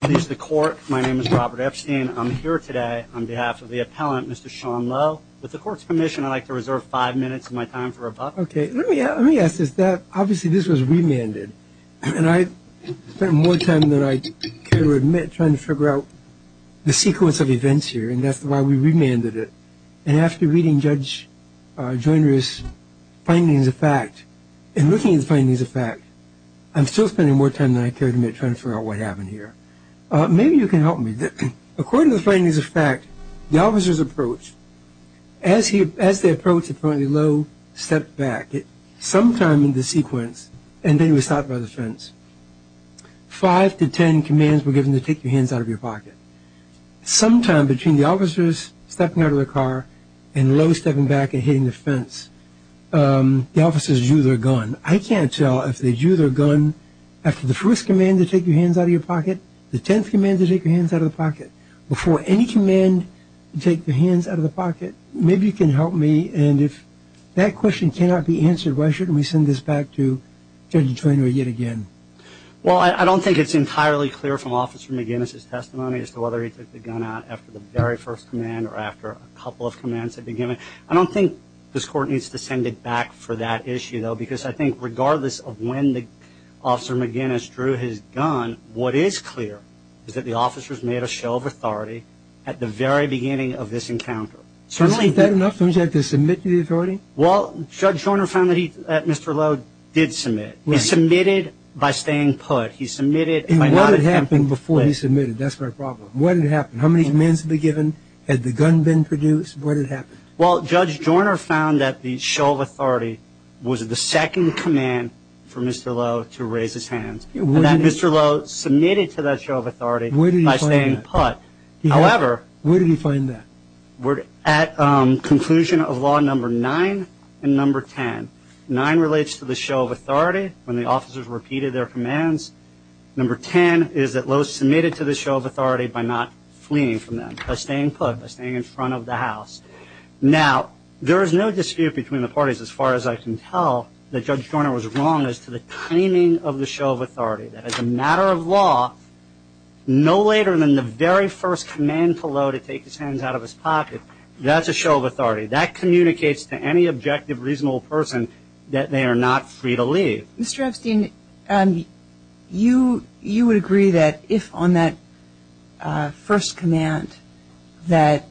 Please the court. My name is Robert Epstein. I'm here today on behalf of the appellant, Mr. Sean Lowe. With the court's permission, I'd like to reserve five minutes of my time for rebuttal. Okay. Let me ask this. Obviously, this was remanded, and I spent more time than I care to admit trying to figure out the sequence of events here, and that's why we remanded it. And after reading Judge Joyner's findings of fact, and looking at the findings of fact, I'm still spending more time than I care to admit trying to figure out what happened here. Maybe you can help me. According to the findings of fact, the officer's approach, as they approached Appellant Lowe, stepped back sometime in the sequence, and then he was stopped by the fence. Five to ten commands were given to take your hands out of your pocket. Sometime between the officers stepping out of the car and Lowe stepping back and hitting the fence, the officers drew their gun. I can't tell if they drew their gun after the first command to take your hands out of your pocket, the tenth command to take your hands out of the pocket, before any command to take your hands out of the pocket. Maybe you can help me. And if that question cannot be answered, why shouldn't we send this back to Judge Joyner yet again? Well, I don't think it's entirely clear from Officer McGinnis' testimony as to whether he took the gun out after the very first command or after a couple of commands had been given. I don't think this Court needs to send it back for that issue, though, because I think regardless of when Officer McGinnis drew his gun, what is clear is that the officers made a show of authority at the very beginning of this encounter. So isn't that enough? Doesn't he have to submit to the authority? Well, Judge Joyner found that Mr. Lowe did submit. He submitted by staying put. He submitted by not attempting to play. And what had happened before he submitted? That's my problem. What had happened? How many commands had been given? Had the gun been produced? What had happened? Well, Judge Joyner found that the show of authority was the second command for Mr. Lowe to raise his hands. And that Mr. Lowe submitted to that show of authority by staying put. Where did he find that? At conclusion of Law No. 9 and No. 10. No. 9 relates to the show of authority when the officers repeated their commands. No. 10 is that Lowe submitted to the show of authority by not fleeing from them, by staying put, by staying in front of the house. Now, there is no dispute between the parties as far as I can tell that Judge Joyner was wrong as to the claiming of the show of authority. That as a matter of law, no later than the very first command for Lowe to take his hands out of his pocket, that's a show of authority. That communicates to any objective, reasonable person that they are not free to leave. Mr. Epstein, you would agree that if on that first command that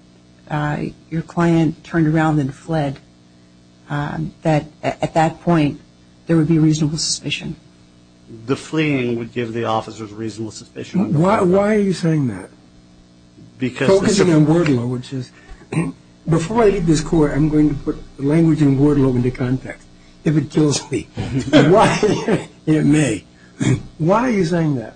your client turned around and fled, that at that point, there would be reasonable suspicion? The fleeing would give the officers reasonable suspicion. Why are you saying that? Because... Before I leave this court, I'm going to put language and word law into context. If it kills me, it may. Why are you saying that?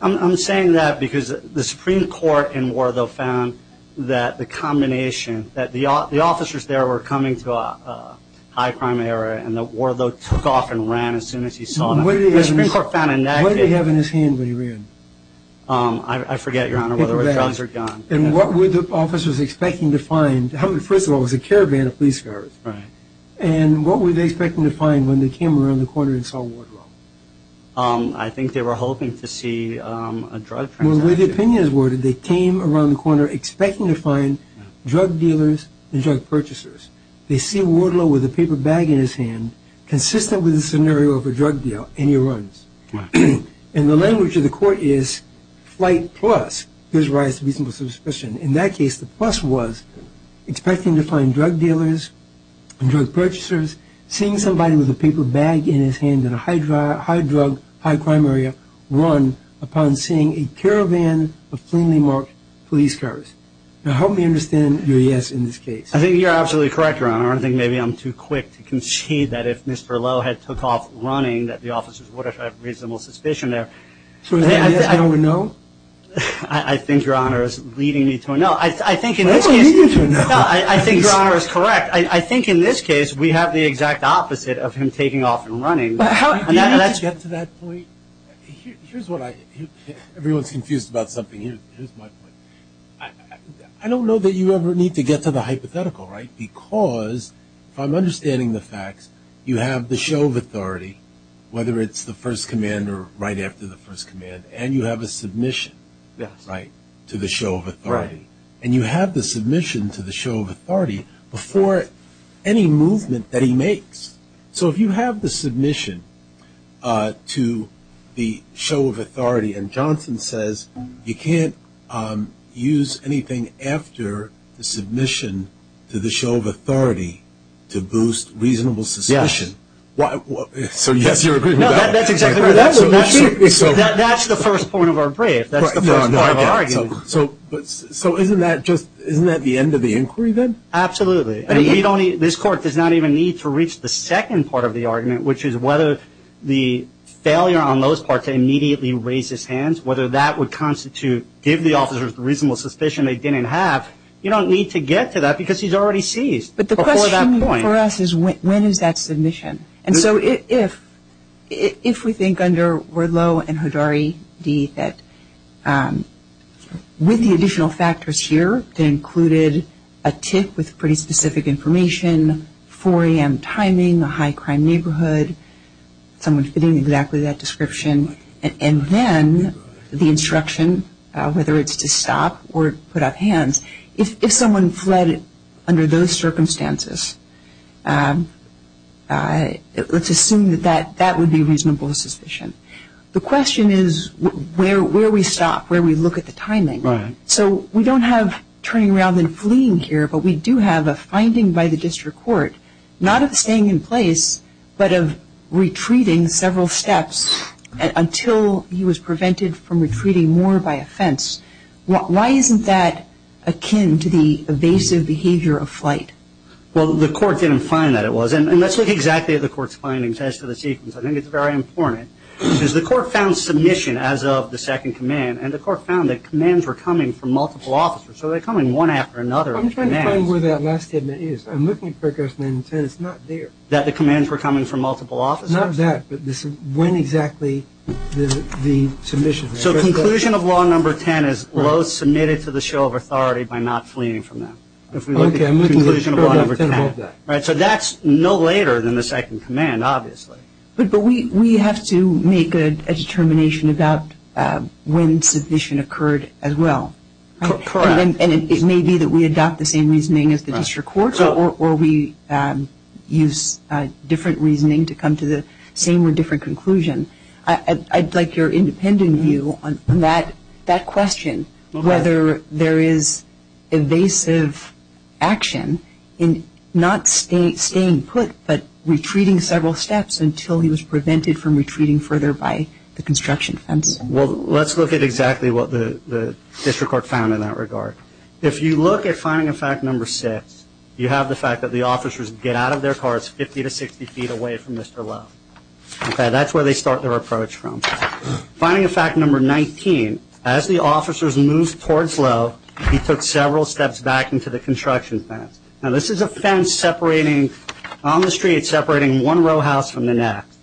I'm saying that because the Supreme Court in Wardle found that the combination, that the officers there were coming to a high crime area, and that Wardle took off and ran as soon as he saw them. The Supreme Court found in that case... What did he have in his hand when he ran? I forget, Your Honor, whether it was drugs or guns. And what were the officers expecting to find? First of all, it was a caravan of police cars. Right. And what were they expecting to find when they came around the corner and saw Wardle? I think they were hoping to see a drug transaction. Well, the way the opinion is worded, they came around the corner expecting to find drug dealers and drug purchasers. They see Wardle with a paper bag in his hand, consistent with the scenario of a drug deal, and he runs. And the language of the court is flight plus, there's a rise to reasonable suspicion. In that case, the plus was expecting to find drug dealers and drug purchasers, seeing somebody with a paper bag in his hand in a high drug, high crime area, run upon seeing a caravan of cleanly marked police cars. Now, help me understand your yes in this case. I think you're absolutely correct, Your Honor. Your Honor, I think maybe I'm too quick to concede that if Mr. Lowe had took off running, that the officers would have had reasonable suspicion there. So is that yes, no, or no? I think, Your Honor, is leading me to a no. I think in this case. That's leading you to a no. No, I think Your Honor is correct. I think in this case we have the exact opposite of him taking off and running. Do you need to get to that point? Here's what I think. Everyone's confused about something here. Here's my point. I don't know that you ever need to get to the hypothetical, right, because if I'm understanding the facts, you have the show of authority, whether it's the first command or right after the first command, and you have a submission to the show of authority. And you have the submission to the show of authority before any movement that he makes. And Johnson says you can't use anything after the submission to the show of authority to boost reasonable suspicion. Yes. So, yes, you're agreeing with that. No, that's exactly right. That's the first point of our brief. That's the first part of our argument. So isn't that the end of the inquiry then? Absolutely. This Court does not even need to reach the second part of the argument, which is whether the failure on those parts immediately raises hands, whether that would constitute giving the officers reasonable suspicion they didn't have. You don't need to get to that because he's already seized before that point. But the question for us is when is that submission? And so if we think under Werdlow and Hodari that with the additional factors here, a tip with pretty specific information, 4 a.m. timing, a high crime neighborhood, someone fitting exactly that description, and then the instruction whether it's to stop or put up hands, if someone fled under those circumstances, let's assume that that would be reasonable suspicion. The question is where we stop, where we look at the timing. Right. So we don't have turning around and fleeing here, but we do have a finding by the district court not of staying in place, but of retreating several steps until he was prevented from retreating more by a fence. Why isn't that akin to the evasive behavior of flight? Well, the Court didn't find that it was. And let's look exactly at the Court's findings as to the sequence. I think it's very important because the Court found submission as of the second command, and the Court found that commands were coming from multiple officers, so they're coming one after another. I'm trying to find where that last statement is. I'm looking at paragraph 9 and 10. It's not there. That the commands were coming from multiple officers? Not that, but when exactly the submission was. So conclusion of law number 10 is Lowe submitted to the show of authority by not fleeing from them. Okay, I'm looking at paragraph 10 of that. So that's no later than the second command, obviously. But we have to make a determination about when submission occurred as well. Correct. And it may be that we adopt the same reasoning as the district courts or we use different reasoning to come to the same or different conclusion. I'd like your independent view on that question, whether there is evasive action in not staying put, but retreating several steps until he was prevented from retreating further by the construction fence. Well, let's look at exactly what the district court found in that regard. If you look at finding of fact number 6, you have the fact that the officers get out of their carts 50 to 60 feet away from Mr. Lowe. That's where they start their approach from. Finding of fact number 19, as the officers moved towards Lowe, he took several steps back into the construction fence. Now, this is a fence on the street separating one row house from the next.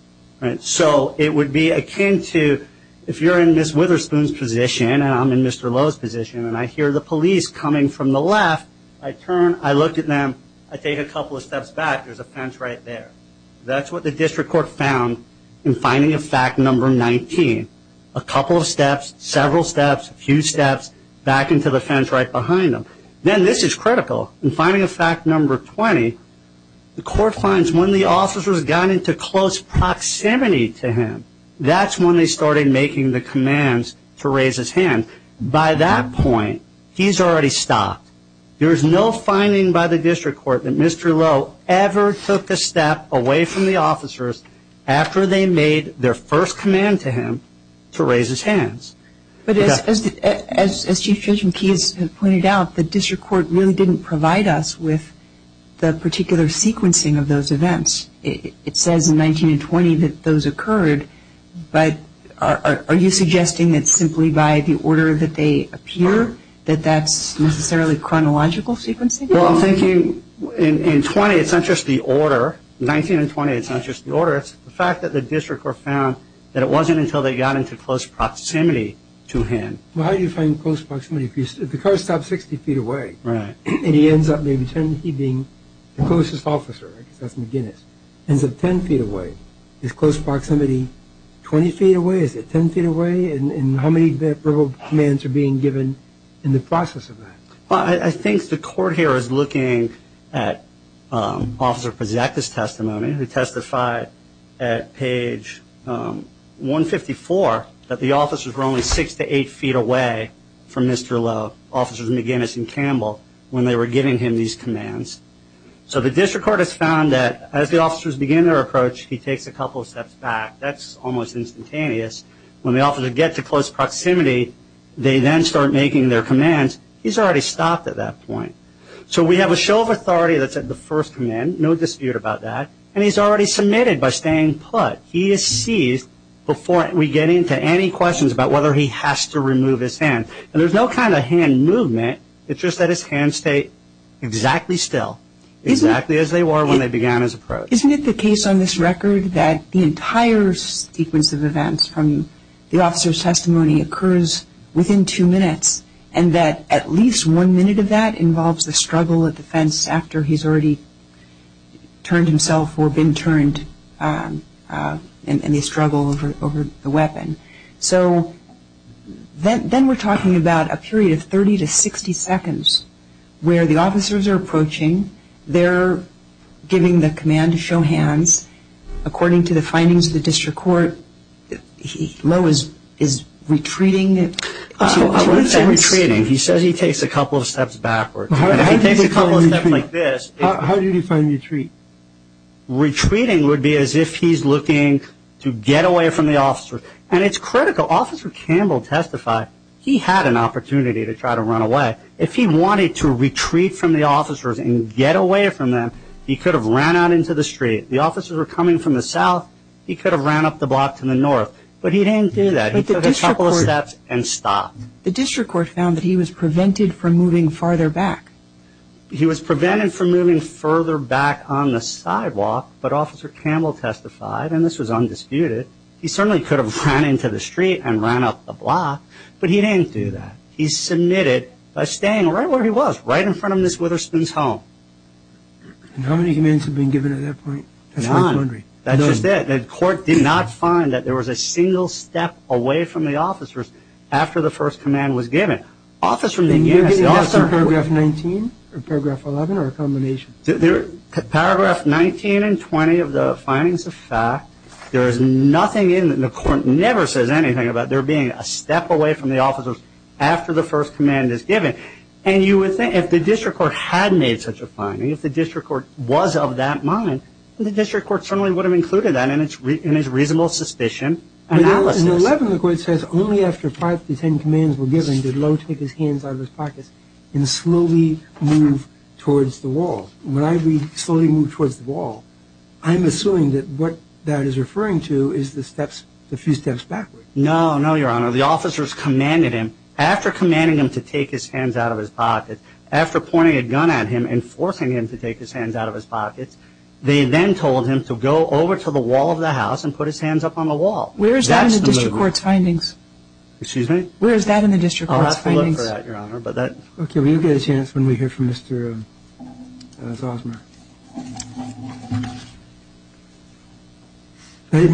So it would be akin to if you're in Ms. Witherspoon's position and I'm in Mr. Lowe's position and I hear the police coming from the left, I turn, I look at them, I take a couple of steps back, there's a fence right there. That's what the district court found in finding of fact number 19. A couple of steps, several steps, a few steps back into the fence right behind them. Then this is critical. In finding of fact number 20, the court finds when the officers got into close proximity to him, that's when they started making the commands to raise his hand. By that point, he's already stopped. There is no finding by the district court that Mr. Lowe ever took a step away from the officers after they made their first command to him to raise his hands. But as Chief Judge McKee has pointed out, the district court really didn't provide us with the particular sequencing of those events. It says in 19 and 20 that those occurred, but are you suggesting that simply by the order that they appear, that that's necessarily chronological sequencing? Well, thank you. In 20, it's not just the order. 19 and 20, it's not just the order. It's the fact that the district court found that it wasn't until they got into close proximity to him. Well, how do you find close proximity? If the car stops 60 feet away and he ends up being the closest officer, ends up 10 feet away, is close proximity 20 feet away? Is it 10 feet away? And how many verbal commands are being given in the process of that? Well, I think the court here is looking at Officer Prozac's testimony, who testified at page 154 that the officers were only 6 to 8 feet away from Mr. Lowe, Officers McGinnis and Campbell, when they were giving him these commands. So the district court has found that as the officers begin their approach, he takes a couple of steps back. That's almost instantaneous. When the officers get to close proximity, they then start making their commands. He's already stopped at that point. So we have a show of authority that's at the first command. No dispute about that. And he's already submitted by staying put. He is seized before we get into any questions about whether he has to remove his hand. And there's no kind of hand movement. It's just that his hands stay exactly still, exactly as they were when they began his approach. Isn't it the case on this record that the entire sequence of events from the officer's testimony occurs within two minutes and that at least one minute of that involves the struggle at the fence after he's already turned himself or been turned and the struggle over the weapon? So then we're talking about a period of 30 to 60 seconds where the officers are approaching. They're giving the command to show hands. According to the findings of the district court, Lowe is retreating. Retreating. He says he takes a couple of steps backward. If he takes a couple of steps like this. How do you define retreat? Retreating would be as if he's looking to get away from the officer. And it's critical. Officer Campbell testified he had an opportunity to try to run away. If he wanted to retreat from the officers and get away from them, he could have ran out into the street. The officers were coming from the south. He could have ran up the block to the north. But he didn't do that. He took a couple of steps and stopped. The district court found that he was prevented from moving farther back. He was prevented from moving further back on the sidewalk. But Officer Campbell testified, and this was undisputed, he certainly could have ran into the street and ran up the block. But he didn't do that. He submitted by staying right where he was, right in front of Ms. Witherspoon's home. And how many commands have been given at that point? None. That's just it. The court did not find that there was a single step away from the officers after the first command was given. Officers from the U.S. Did you get anything else in Paragraph 19 or Paragraph 11 or a combination? Paragraph 19 and 20 of the findings of fact, there is nothing in that the court never says anything about there being a step away from the officers after the first command is given. And you would think if the district court had made such a finding, if the district court was of that mind, the district court certainly would have included that in its reasonable suspicion analysis. In 11, the court says only after five to ten commands were given did Lowe take his hands out of his pockets and slowly move towards the wall. When I read slowly move towards the wall, I'm assuming that what that is referring to is the few steps backward. No, no, Your Honor. The officers commanded him, after commanding him to take his hands out of his pockets, after pointing a gun at him and forcing him to take his hands out of his pockets, they then told him to go over to the wall of the house and put his hands up on the wall. Where is that in the district court's findings? Excuse me? Where is that in the district court's findings? Okay, we'll get a chance when we hear from Mr. Zosmer. Good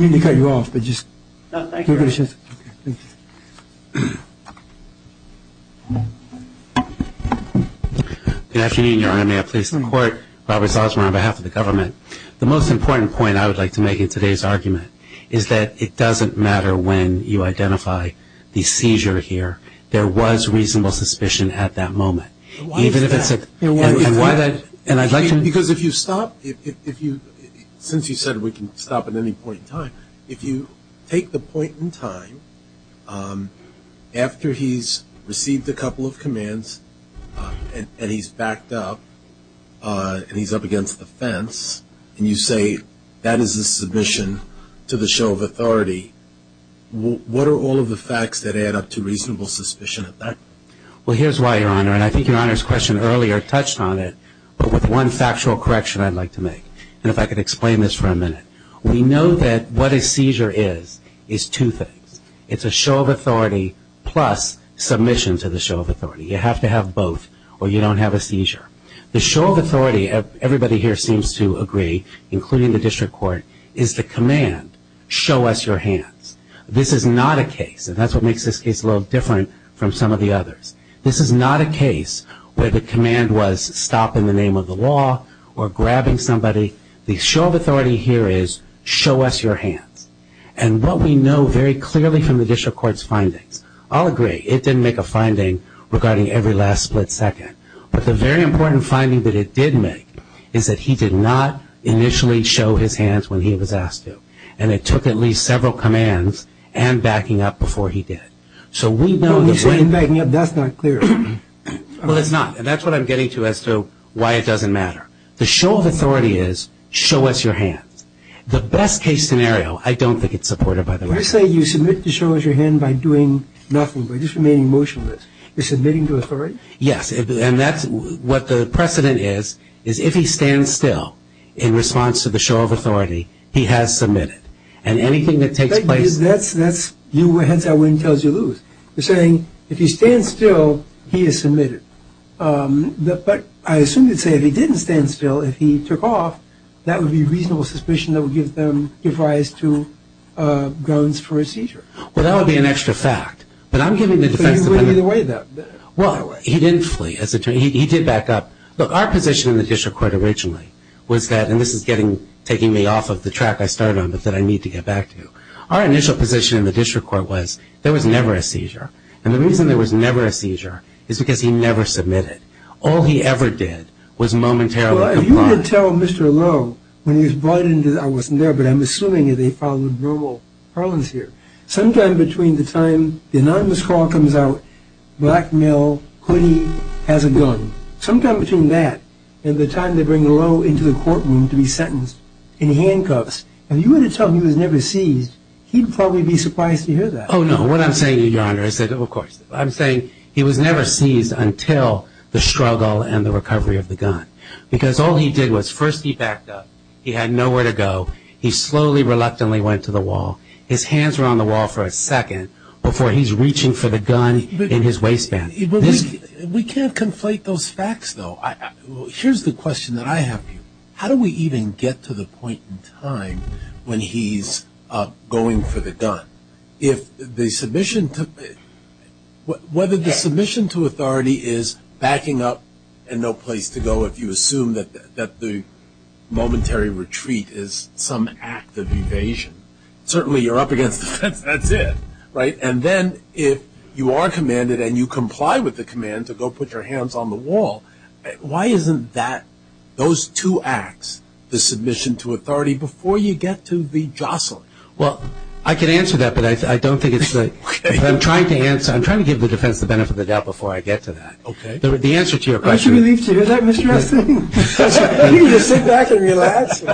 afternoon, Your Honor. May I please the court? Robert Zosmer on behalf of the government. The most important point I would like to make in today's argument is that it doesn't matter when you identify the seizure here. There was reasonable suspicion at that moment. Why is that? Because if you stop, since you said we can stop at any point in time, if you take the point in time after he's received a couple of commands and he's backed up and he's up against the fence and you say that is a submission to the show of authority, what are all of the facts that add up to reasonable suspicion at that point? Well, here's why, Your Honor. And I think Your Honor's question earlier touched on it, but with one factual correction I'd like to make. And if I could explain this for a minute. We know that what a seizure is is two things. It's a show of authority plus submission to the show of authority. You have to have both or you don't have a seizure. The show of authority, everybody here seems to agree, including the district court, is the command, show us your hands. This is not a case, and that's what makes this case a little different from some of the others. This is not a case where the command was stop in the name of the law or grabbing somebody. The show of authority here is show us your hands. And what we know very clearly from the district court's findings, I'll agree, it didn't make a finding regarding every last split second, but the very important finding that it did make is that he did not initially show his hands when he was asked to. And it took at least several commands and backing up before he did. So we know that when he... When you say backing up, that's not clear. Well, it's not. And that's what I'm getting to as to why it doesn't matter. The show of authority is show us your hands. The best case scenario, I don't think it's supported by the law. You say you submit to show us your hand by doing nothing, by just remaining motionless. You're submitting to authority? Yes. And that's what the precedent is, is if he stands still in response to the show of authority, he has submitted. And anything that takes place... That's you heads that win, tails you lose. You're saying if he stands still, he has submitted. But I assume you'd say if he didn't stand still, if he took off, that would be reasonable suspicion that would give rise to grounds for a seizure. Well, that would be an extra fact. But I'm giving the defense... But he wouldn't either way, though. Well, he didn't flee. He did back up. Look, our position in the district court originally was that, and this is taking me off of the track I started on but that I need to get back to, our initial position in the district court was there was never a seizure. And the reason there was never a seizure is because he never submitted. All he ever did was momentarily comply. Well, if you could tell Mr. Lowe when he was brought in, I wasn't there, but I'm assuming that he followed normal parlance here. Sometime between the time the anonymous call comes out, black male, hoody, has a gun, sometime between that and the time they bring Lowe into the courtroom to be sentenced in handcuffs, if you were to tell him he was never seized, he'd probably be surprised to hear that. Oh, no. What I'm saying, Your Honor, is that, of course, I'm saying he was never seized until the struggle and the recovery of the gun because all he did was first he backed up. He had nowhere to go. He slowly, reluctantly went to the wall. His hands were on the wall for a second before he's reaching for the gun in his waistband. We can't conflate those facts, though. Here's the question that I have for you. How do we even get to the point in time when he's going for the gun? Whether the submission to authority is backing up and no place to go, if you assume that the momentary retreat is some act of evasion, certainly you're up against the fence. That's it, right? And then if you are commanded and you comply with the command to go put your hands on the wall, why isn't that, those two acts, the submission to authority before you get to the jostling? Well, I can answer that, but I don't think it's the – I'm trying to give the defense the benefit of the doubt before I get to that. Okay. The answer to your question – Aren't you relieved to hear that, Mr. Rustin? You can just sit back and relax.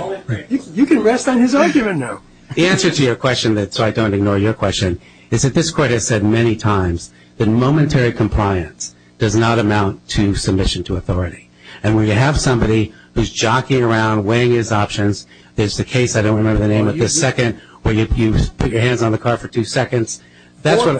You can rest on his argument now. The answer to your question, so I don't ignore your question, is that this court has said many times that momentary compliance does not amount to submission to authority. And when you have somebody who's jockeying around, weighing his options, there's the case – I don't remember the name of this – second, where you put your hands on the car for two seconds.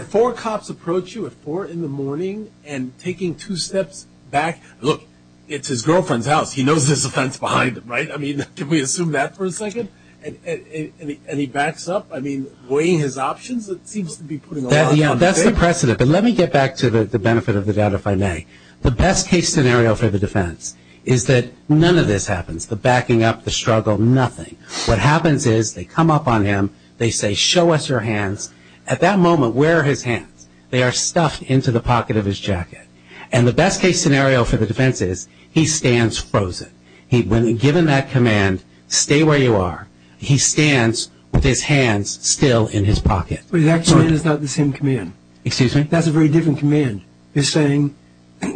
Four cops approach you at 4 in the morning and taking two steps back. Look, it's his girlfriend's house. He knows there's a fence behind him, right? I mean, can we assume that for a second? And he backs up? I mean, weighing his options, it seems to be putting a lot on the table. Yeah, that's the precedent. But let me get back to the benefit of the doubt, if I may. The best-case scenario for the defense is that none of this happens, the backing up, the struggle, nothing. What happens is they come up on him. They say, show us your hands. At that moment, where are his hands? They are stuffed into the pocket of his jacket. And the best-case scenario for the defense is he stands frozen. When given that command, stay where you are, he stands with his hands still in his pocket. Wait, that command is not the same command. Excuse me? That's a very different command. You're saying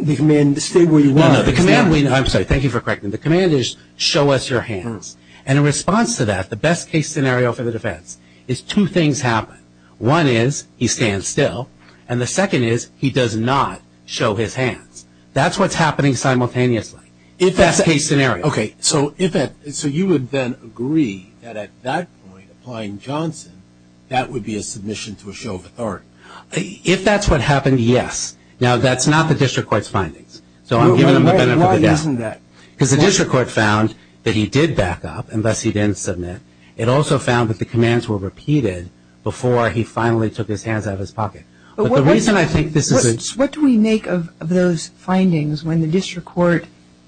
the command, stay where you are. No, no, the command – I'm sorry, thank you for correcting me. The command is, show us your hands. And in response to that, the best-case scenario for the defense is two things happen. One is, he stands still. And the second is, he does not show his hands. That's what's happening simultaneously. Best-case scenario. Okay, so you would then agree that at that point, applying Johnson, that would be a submission to a show of authority. If that's what happened, yes. Now, that's not the district court's findings. So I'm giving them the benefit of the doubt. Why isn't that? Because the district court found that he did back up, and thus he didn't submit. It also found that the commands were repeated before he finally took his hands out of his pocket. What do we make of those findings when the district court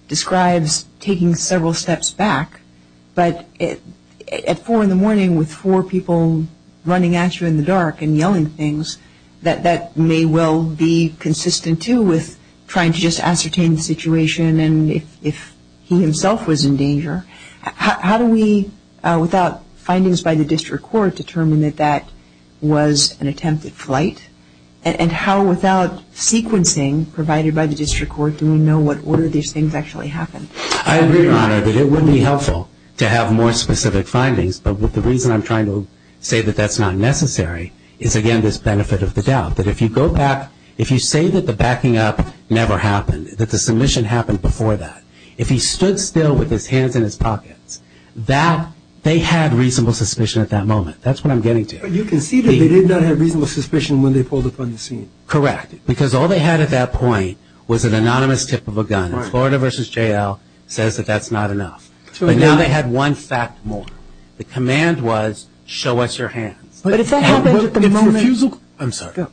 describes taking several steps back, but at 4 in the morning with four people running at you in the dark and yelling things, that that may well be consistent, too, with trying to just ascertain the situation How do we, without findings by the district court, determine that that was an attempted flight? And how, without sequencing provided by the district court, do we know what order these things actually happened? I agree, Your Honor, that it would be helpful to have more specific findings. But the reason I'm trying to say that that's not necessary is, again, this benefit of the doubt. That if you go back, if you say that the backing up never happened, that the submission happened before that, if he stood still with his hands in his pockets, that they had reasonable suspicion at that moment. That's what I'm getting to. But you can see that they did not have reasonable suspicion when they pulled up on the scene. Correct. Because all they had at that point was an anonymous tip of a gun. Florida v. J.L. says that that's not enough. But now they had one fact more. The command was, show us your hands. But if that happened at the moment I'm sorry.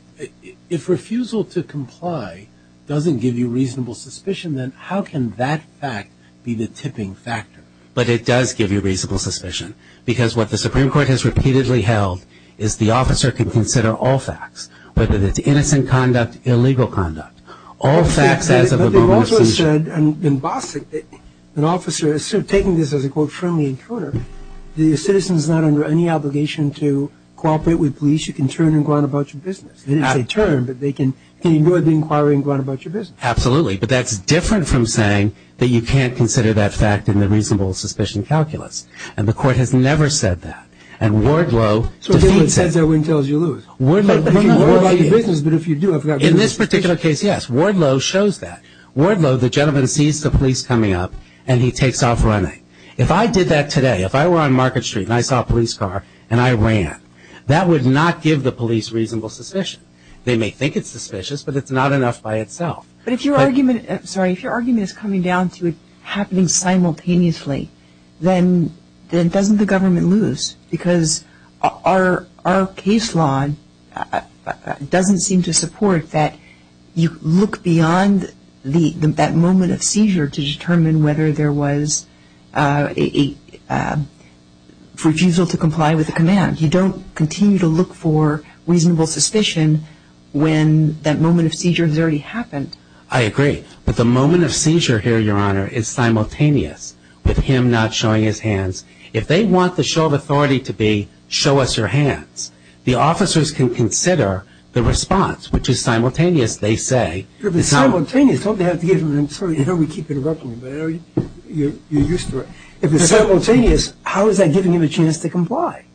If refusal to comply doesn't give you reasonable suspicion, then how can that fact be the tipping factor? But it does give you reasonable suspicion. Because what the Supreme Court has repeatedly held is the officer can consider all facts, whether it's innocent conduct, illegal conduct. All facts as of the moment of seizure. But they've also said in Bostic that an officer is taking this as a, quote, friendly encounter. The citizen is not under any obligation to cooperate with police. In other words, you can turn and go on about your business. And it's a term, but they can go to the inquiry and go on about your business. Absolutely. But that's different from saying that you can't consider that fact in the reasonable suspicion calculus. And the court has never said that. And Wardlow defeats that. So it says that win tells you lose. In this particular case, yes. Wardlow shows that. Wardlow, the gentleman, sees the police coming up and he takes off running. If I did that today, if I were on Market Street and I saw a police car and I ran, that would not give the police reasonable suspicion. They may think it's suspicious, but it's not enough by itself. But if your argument is coming down to it happening simultaneously, then doesn't the government lose? Because our case law doesn't seem to support that you look beyond that moment of seizure to determine whether there was a refusal to comply with the command. You don't continue to look for reasonable suspicion when that moment of seizure has already happened. I agree. But the moment of seizure here, Your Honor, is simultaneous with him not showing his hands. If they want the show of authority to be show us your hands, the officers can consider the response, which is simultaneous, they say. If it's simultaneous, how is that giving him a chance to comply?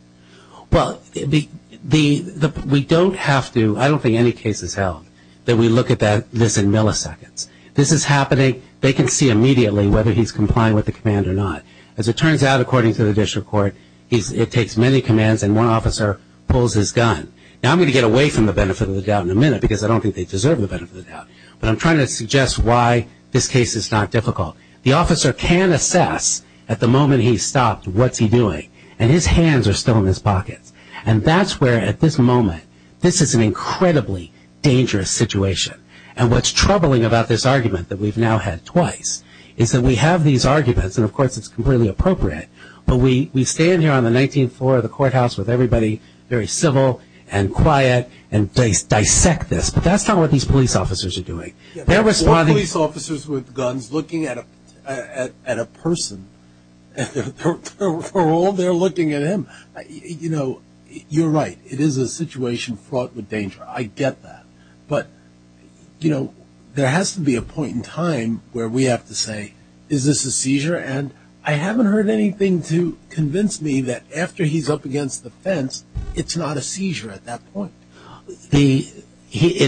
Well, we don't have to, I don't think any case is held that we look at this in milliseconds. This is happening, they can see immediately whether he's complying with the command or not. As it turns out, according to the district court, it takes many commands and one officer pulls his gun. Now I'm going to get away from the benefit of the doubt in a minute because I don't think they deserve the benefit of the doubt, but I'm trying to suggest why this case is not difficult. The officer can assess at the moment he's stopped what's he doing, and his hands are still in his pockets. And that's where, at this moment, this is an incredibly dangerous situation. And what's troubling about this argument that we've now had twice is that we have these arguments, and of course it's completely appropriate, but we stand here on the 19th floor of the courthouse with everybody, very civil and quiet, and dissect this. But that's not what these police officers are doing. There are police officers with guns looking at a person. They're all there looking at him. You know, you're right. It is a situation fraught with danger. I get that. But, you know, there has to be a point in time where we have to say, is this a seizure? And I haven't heard anything to convince me that after he's up against the fence, it's not a seizure at that point. It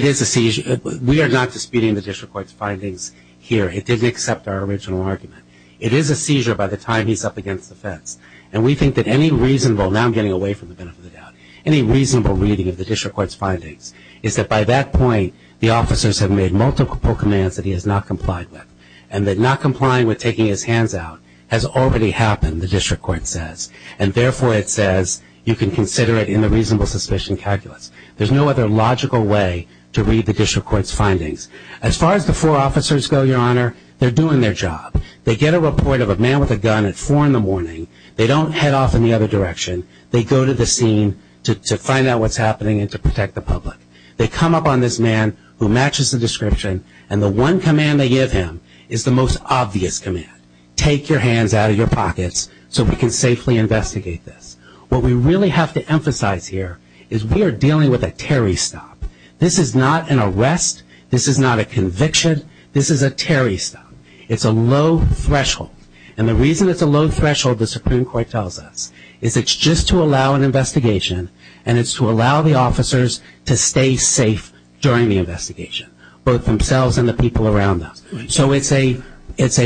is a seizure. We are not disputing the district court's findings here. It didn't accept our original argument. It is a seizure by the time he's up against the fence. And we think that any reasonable, now I'm getting away from the benefit of the doubt, any reasonable reading of the district court's findings is that by that point, the officers have made multiple commands that he has not complied with, and that not complying with taking his hands out has already happened, the district court says. And, therefore, it says you can consider it in the reasonable suspicion calculus. There's no other logical way to read the district court's findings. As far as the four officers go, Your Honor, they're doing their job. They get a report of a man with a gun at 4 in the morning. They don't head off in the other direction. They go to the scene to find out what's happening and to protect the public. They come up on this man who matches the description, and the one command they give him is the most obvious command, take your hands out of your pockets so we can safely investigate this. What we really have to emphasize here is we are dealing with a Terry stop. This is not an arrest. This is not a conviction. This is a Terry stop. It's a low threshold. And the reason it's a low threshold, the Supreme Court tells us, is it's just to allow an investigation, and it's to allow the officers to stay safe during the investigation, both themselves and the people around them. So it's a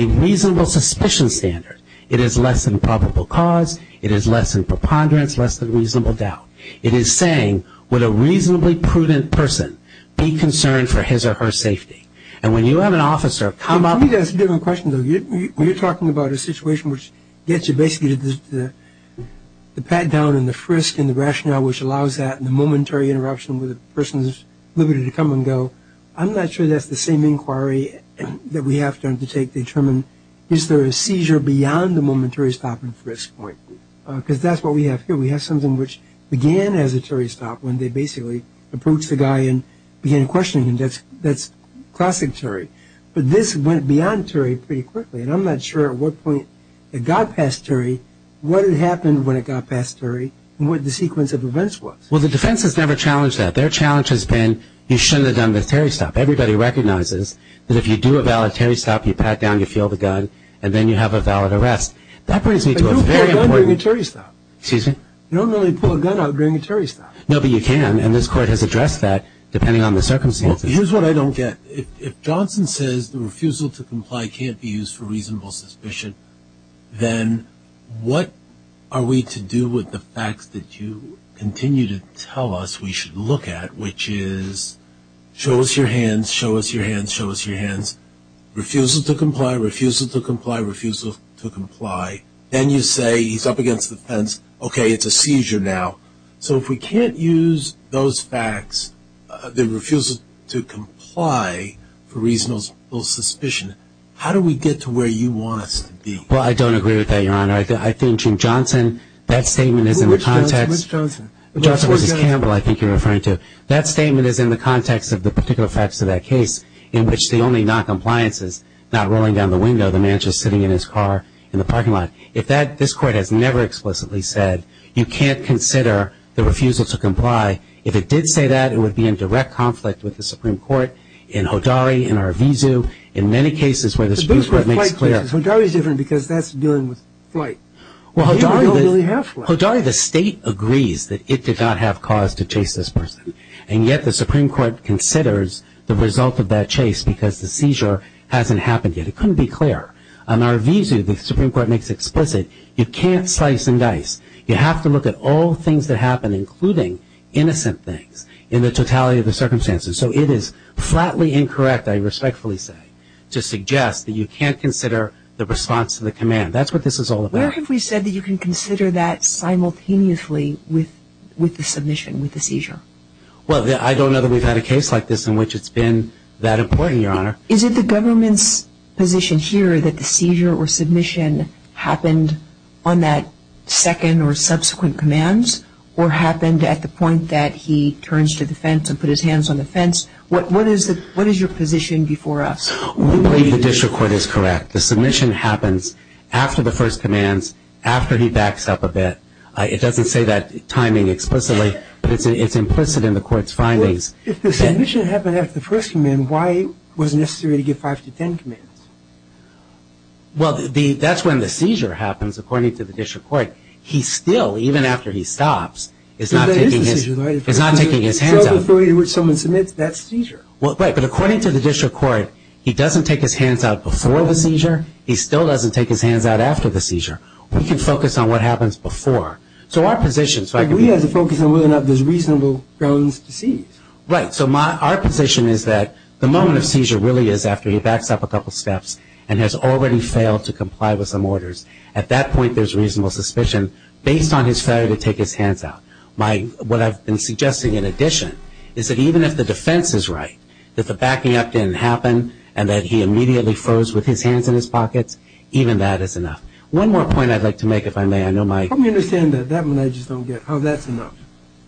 reasonable suspicion standard. It is less than probable cause. It is less than preponderance, less than reasonable doubt. It is saying, would a reasonably prudent person be concerned for his or her safety? And when you have an officer come up. Let me ask a different question, though. When you're talking about a situation which gets you basically to the pat-down and the frisk and the rationale which allows that, and the momentary interruption where the person is limited to come and go, I'm not sure that's the same inquiry that we have to undertake to determine, is there a seizure beyond the momentary stop and frisk point? Because that's what we have here. We have something which began as a Terry stop when they basically approached the guy and began questioning him. That's classic Terry. But this went beyond Terry pretty quickly, and I'm not sure at what point it got past Terry, what had happened when it got past Terry, and what the sequence of events was. Well, the defense has never challenged that. Their challenge has been you shouldn't have done the Terry stop. Everybody recognizes that if you do a valid Terry stop, you pat down, you feel the gun, and then you have a valid arrest. That brings me to a very important point. But you don't pull a gun during a Terry stop. Excuse me? You don't really pull a gun out during a Terry stop. No, but you can, and this Court has addressed that depending on the circumstances. Well, here's what I don't get. If Johnson says the refusal to comply can't be used for reasonable suspicion, then what are we to do with the facts that you continue to tell us we should look at, which is show us your hands, show us your hands, show us your hands, refusal to comply, refusal to comply, refusal to comply. Then you say he's up against the fence. Okay, it's a seizure now. So if we can't use those facts, the refusal to comply for reasonable suspicion, how do we get to where you want us to be? Well, I don't agree with that, Your Honor. I think Jim Johnson, that statement is in the context. Which Johnson? Johnson v. Campbell I think you're referring to. That statement is in the context of the particular facts of that case in which the only noncompliance is not rolling down the window, the man just sitting in his car in the parking lot. If that, this Court has never explicitly said you can't consider the refusal to comply. If it did say that, it would be in direct conflict with the Supreme Court, in Hodari, in Arvizu. In many cases where the Supreme Court makes clear. But those were flight cases. Hodari is different because that's dealing with flight. Well, Hodari, the state agrees that it did not have cause to chase this person, and yet the Supreme Court considers the result of that chase because the seizure hasn't happened yet. It couldn't be clearer. On Arvizu, the Supreme Court makes explicit you can't slice and dice. You have to look at all things that happen, including innocent things, in the totality of the circumstances. So it is flatly incorrect, I respectfully say, to suggest that you can't consider the response to the command. That's what this is all about. Where have we said that you can consider that simultaneously with the submission, with the seizure? Well, I don't know that we've had a case like this in which it's been that important, Your Honor. Is it the government's position here that the seizure or submission happened on that second or subsequent commands or happened at the point that he turns to the fence and put his hands on the fence? What is your position before us? We believe the district court is correct. The submission happens after the first commands, after he backs up a bit. It doesn't say that timing explicitly, but it's implicit in the court's findings. If the submission happened after the first command, why was it necessary to give five to ten commands? Well, that's when the seizure happens, according to the district court. He still, even after he stops, is not taking his hands out. So the point at which someone submits, that's seizure. Right, but according to the district court, he doesn't take his hands out before the seizure. He still doesn't take his hands out after the seizure. We can focus on what happens before. So our position is that the moment of seizure really is after he backs up a couple steps and has already failed to comply with some orders. At that point, there's reasonable suspicion based on his failure to take his hands out. What I've been suggesting, in addition, is that even if the defense is right, that the backing up didn't happen and that he immediately froze with his hands in his pockets, even that is enough. One more point I'd like to make, if I may. Let me understand that. That one I just don't get, how that's enough.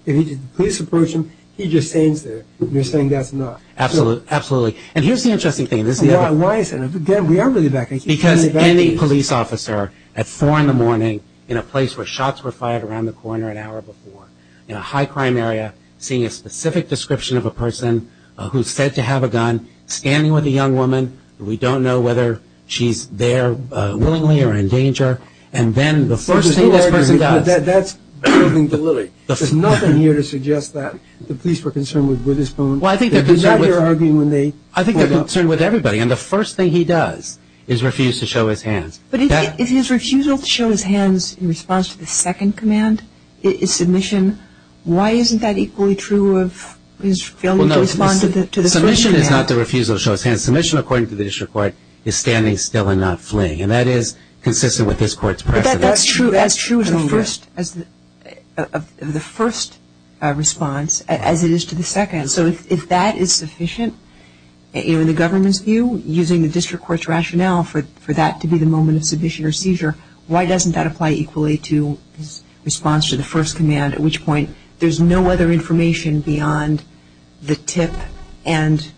If the police approach him, he just stands there. You're saying that's enough. Absolutely. And here's the interesting thing. Why is that? Again, we are really backing up. Because any police officer, at 4 in the morning, in a place where shots were fired around the corner an hour before, in a high-crime area, seeing a specific description of a person who's said to have a gun, standing with a young woman. We don't know whether she's there willingly or in danger. And then the first thing this person does. That's moving the lily. There's nothing here to suggest that the police were concerned with his phone. I think they're concerned with everybody. And the first thing he does is refuse to show his hands. But if his refusal to show his hands in response to the second command is submission, why isn't that equally true of his failure to respond to the first command? Submission is not the refusal to show his hands. Submission, according to the district court, is standing still and not fleeing. And that is consistent with this court's precedent. That's true of the first response, as it is to the second. So if that is sufficient, in the government's view, using the district court's rationale for that to be the moment of submission or seizure, why doesn't that apply equally to his response to the first command, at which point there's no other information beyond the tip and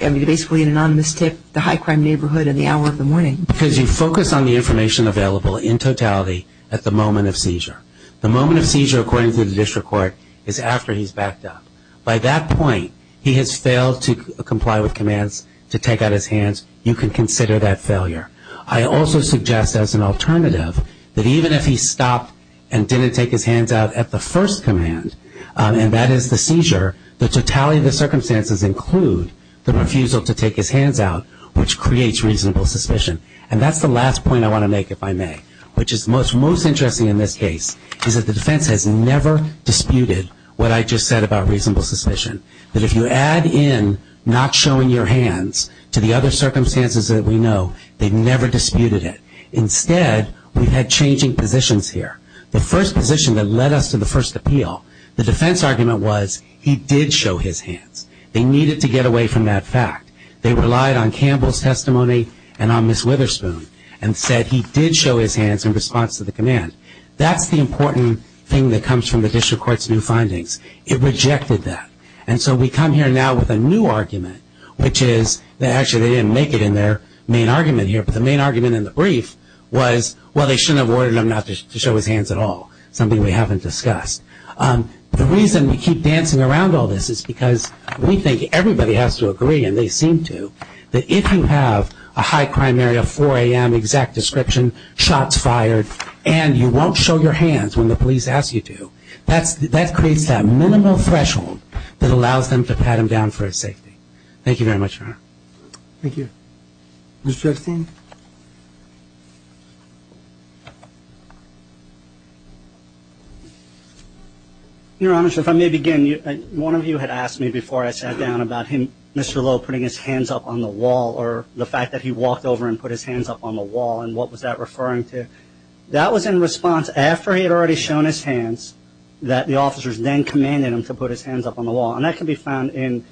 basically an anonymous tip, the high-crime neighborhood and the hour of the morning. Because you focus on the information available in totality at the moment of seizure. The moment of seizure, according to the district court, is after he's backed up. By that point, he has failed to comply with commands to take out his hands. You can consider that failure. I also suggest as an alternative that even if he stopped and didn't take his hands out at the first command, and that is the seizure, the totality of the circumstances include the refusal to take his hands out, which creates reasonable suspicion. And that's the last point I want to make, if I may, which is most interesting in this case is that the defense has never disputed what I just said about reasonable suspicion, that if you add in not showing your hands to the other circumstances that we know, they've never disputed it. Instead, we've had changing positions here. The first position that led us to the first appeal, the defense argument was he did show his hands. They needed to get away from that fact. They relied on Campbell's testimony and on Ms. Witherspoon and said he did show his hands in response to the command. That's the important thing that comes from the district court's new findings. It rejected that. And so we come here now with a new argument, which is that actually they didn't make it in their main argument here, but the main argument in the brief was, well, they shouldn't have ordered him not to show his hands at all, something we haven't discussed. The reason we keep dancing around all this is because we think everybody has to agree and they seem to that if you have a high crime area, 4 a.m. exact description, shots fired, and you won't show your hands when the police ask you to, that creates that minimal threshold that allows them to pat him down for his safety. Thank you very much, Your Honor. Thank you. Mr. Epstein? Your Honor, if I may begin, one of you had asked me before I sat down about him, Mr. Lowe, putting his hands up on the wall or the fact that he walked over and put his hands up on the wall and what was that referring to. That was in response, after he had already shown his hands, that the officers then commanded him to put his hands up on the wall. And that can be found in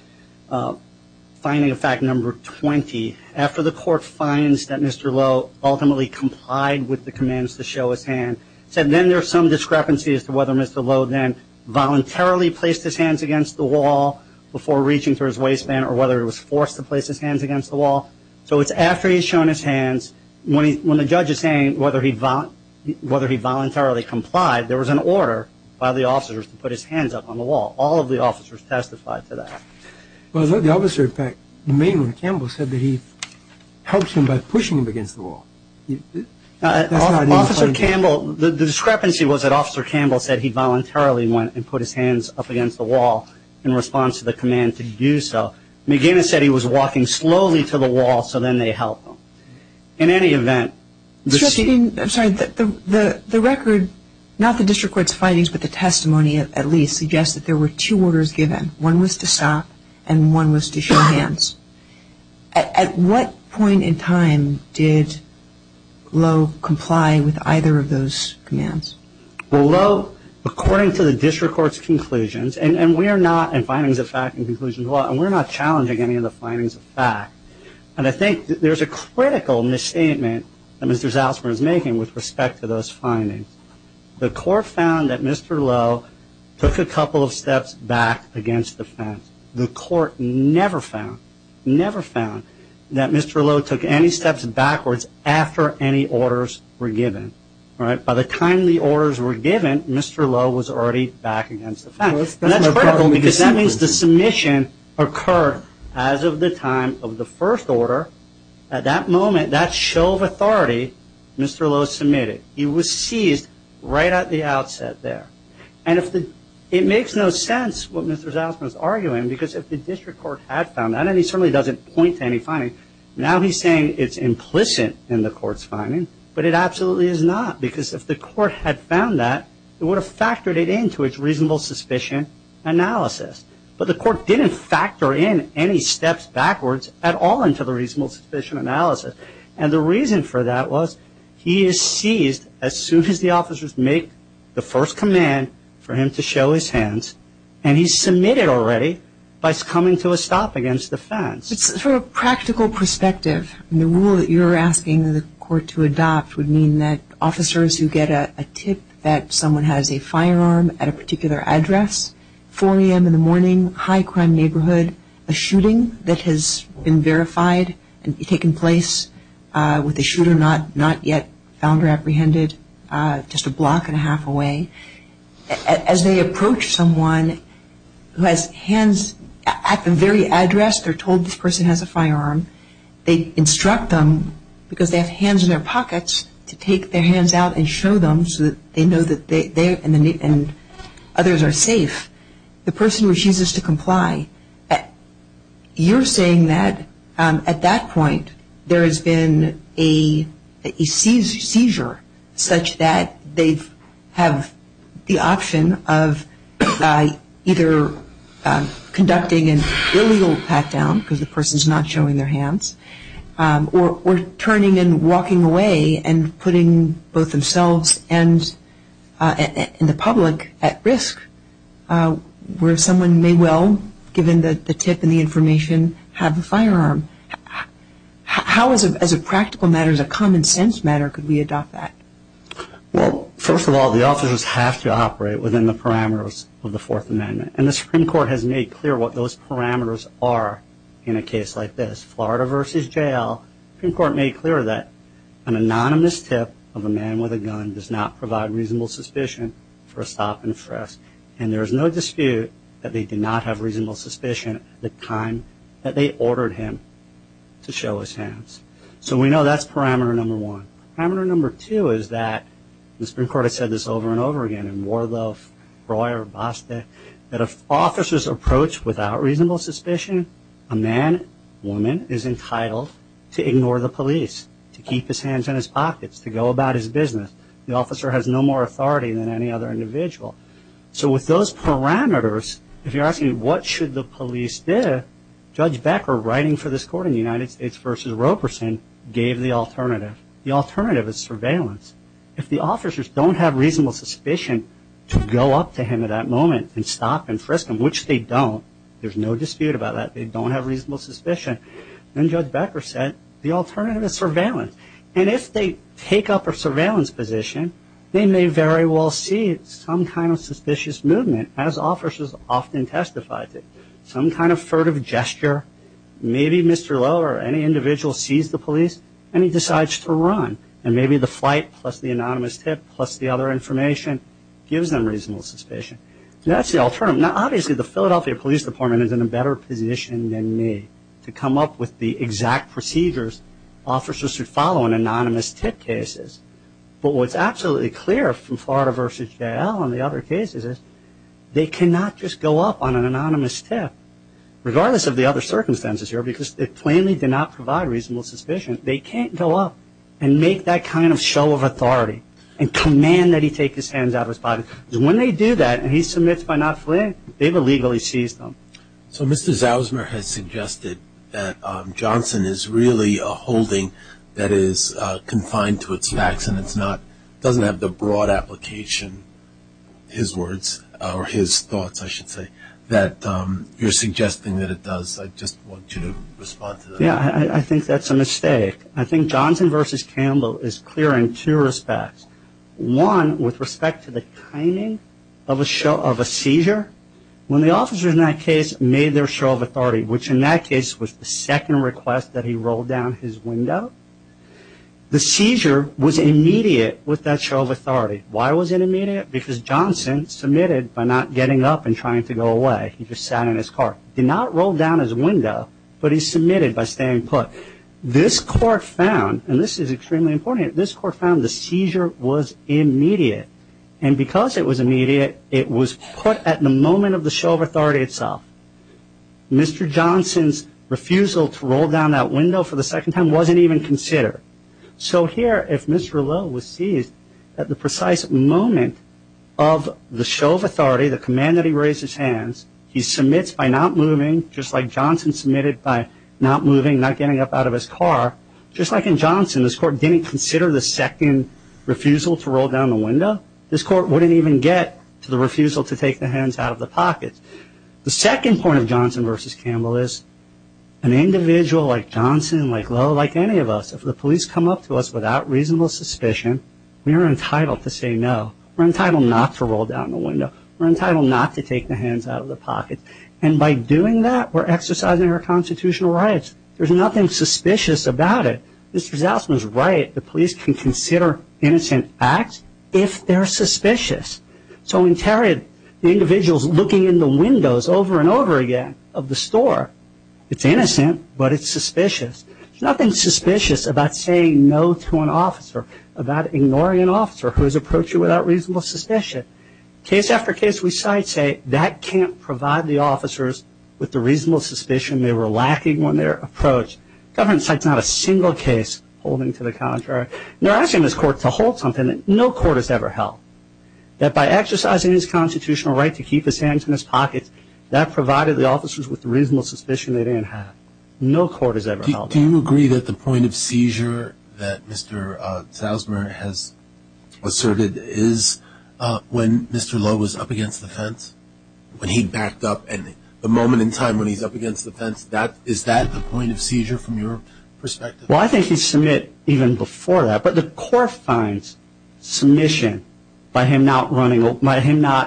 finding of fact number 20. After the court finds that Mr. Lowe ultimately complied with the commands to show his hand, it said then there's some discrepancy as to whether Mr. Lowe then voluntarily placed his hands against the wall before reaching for his waistband or whether he was forced to place his hands against the wall. So it's after he's shown his hands, when the judge is saying whether he voluntarily complied, there was an order by the officers to put his hands up on the wall. All of the officers testified to that. Well, the officer, in fact, the main one, Campbell, said that he helps him by pushing him against the wall. Officer Campbell, the discrepancy was that Officer Campbell said that he voluntarily went and put his hands up against the wall in response to the command to do so. McGinnis said he was walking slowly to the wall, so then they helped him. In any event... I'm sorry. The record, not the district court's findings, but the testimony at least, suggests that there were two orders given. One was to stop and one was to show hands. At what point in time did Lowe comply with either of those commands? Well, Lowe, according to the district court's conclusions, and findings of fact and conclusions of law, and we're not challenging any of the findings of fact, and I think there's a critical misstatement that Mr. Salzman is making with respect to those findings. The court found that Mr. Lowe took a couple of steps back against the fence. The court never found, never found, that Mr. Lowe took any steps backwards after any orders were given. By the time the orders were given, Mr. Lowe was already back against the fence. And that's critical because that means the submission occurred as of the time of the first order. At that moment, that show of authority, Mr. Lowe submitted. He was seized right at the outset there. And it makes no sense what Mr. Salzman is arguing because if the district court had found that, and he certainly doesn't point to any findings, now he's saying it's implicit in the court's finding, but it absolutely is not. Because if the court had found that, it would have factored it into its reasonable suspicion analysis. But the court didn't factor in any steps backwards at all into the reasonable suspicion analysis. And the reason for that was he is seized as soon as the officers make the first command for him to show his hands, and he's submitted already by coming to a stop against the fence. For a practical perspective, the rule that you're asking the court to adopt would mean that officers who get a tip that someone has a firearm at a particular address, 4 a.m. in the morning, high crime neighborhood, a shooting that has been verified and taken place with a shooter not yet found or apprehended, just a block and a half away, as they approach someone who has hands at the very address they're told this person has a firearm, they instruct them because they have hands in their pockets to take their hands out and show them so that they know that they and others are safe, the person refuses to comply. You're saying that at that point there has been a seizure such that they have the option of either conducting an illegal pat-down because the person is not showing their hands, or turning and walking away and putting both themselves and the public at risk where someone may well, given the tip and the information, have a firearm. How, as a practical matter, as a common sense matter, could we adopt that? Well, first of all, the officers have to operate within the parameters of the Fourth Amendment, and the Supreme Court has made clear what those parameters are in a case like this. Well, the Supreme Court made clear that an anonymous tip of a man with a gun does not provide reasonable suspicion for a stop and arrest, and there is no dispute that they did not have reasonable suspicion at the time that they ordered him to show his hands. So we know that's parameter number one. Parameter number two is that, and the Supreme Court has said this over and over again in Warlof, Royer, that if officers approach without reasonable suspicion, a man, woman, is entitled to ignore the police, to keep his hands in his pockets, to go about his business. The officer has no more authority than any other individual. So with those parameters, if you're asking what should the police do, Judge Becker writing for this court in the United States v. Roperson gave the alternative. The alternative is surveillance. If the officers don't have reasonable suspicion to go up to him at that moment and stop and frisk him, which they don't, there's no dispute about that, they don't have reasonable suspicion, then Judge Becker said the alternative is surveillance. And if they take up a surveillance position, they may very well see some kind of suspicious movement, as officers often testify to. Some kind of furtive gesture, maybe Mr. Lowe or any individual sees the police and he decides to run, and maybe the flight plus the anonymous tip plus the other information gives them reasonable suspicion. Now that's the alternative. Now obviously the Philadelphia Police Department is in a better position than me to come up with the exact procedures officers should follow in anonymous tip cases. But what's absolutely clear from Florida v. J.L. and the other cases is they cannot just go up on an anonymous tip, regardless of the other circumstances here, because they plainly do not provide reasonable suspicion. They can't go up and make that kind of show of authority and command that he take his hands out of his pocket. When they do that and he submits by not fleeing, they've illegally seized him. So Mr. Zausmer has suggested that Johnson is really a holding that is confined to its facts and it's not, doesn't have the broad application, his words, or his thoughts I should say, that you're suggesting that it does. I just want you to respond to that. Yeah, I think that's a mistake. I think Johnson v. Campbell is clear in two respects. One with respect to the timing of a seizure. When the officers in that case made their show of authority, which in that case was the second request that he rolled down his window, the seizure was immediate with that show of authority. Why was it immediate? Because Johnson submitted by not getting up and trying to go away. He just sat in his car. He did not roll down his window, but he submitted by staying put. This court found, and this is extremely important, this court found the seizure was immediate. And because it was immediate, it was put at the moment of the show of authority itself. Mr. Johnson's refusal to roll down that window for the second time wasn't even considered. So here, if Mr. Lowe was seized at the precise moment of the show of authority, the command that he raise his hands, he submits by not moving, just like Johnson submitted by not moving, not getting up out of his car. Just like in Johnson, this court didn't consider the second refusal to roll down the window. This court wouldn't even get to the refusal to take the hands out of the pockets. The second point of Johnson v. Campbell is an individual like Johnson, like Lowe, like any of us, if the police come up to us without reasonable suspicion, we are entitled to say no. We're entitled not to roll down the window. We're entitled not to take the hands out of the pockets. And by doing that, we're exercising our constitutional rights. There's nothing suspicious about it. Mr. Zausman is right. The police can consider innocent acts if they're suspicious. So in Tarrant, the individual's looking in the windows over and over again of the store. It's innocent, but it's suspicious. There's nothing suspicious about saying no to an officer, about ignoring an officer who is approaching without reasonable suspicion. Case after case we cite say that can't provide the officers with the reasonable suspicion they were lacking when they were approached. The government cites not a single case holding to the contrary. They're asking this court to hold something that no court has ever held, that by exercising his constitutional right to keep his hands in his pockets, that provided the officers with the reasonable suspicion they didn't have. No court has ever held that. Do you agree that the point of seizure that Mr. Zausman has asserted is when Mr. Lowe was up against the fence, when he backed up, and the moment in time when he's up against the fence, is that the point of seizure from your perspective? Well, I think he's submit even before that. But the court finds submission by him not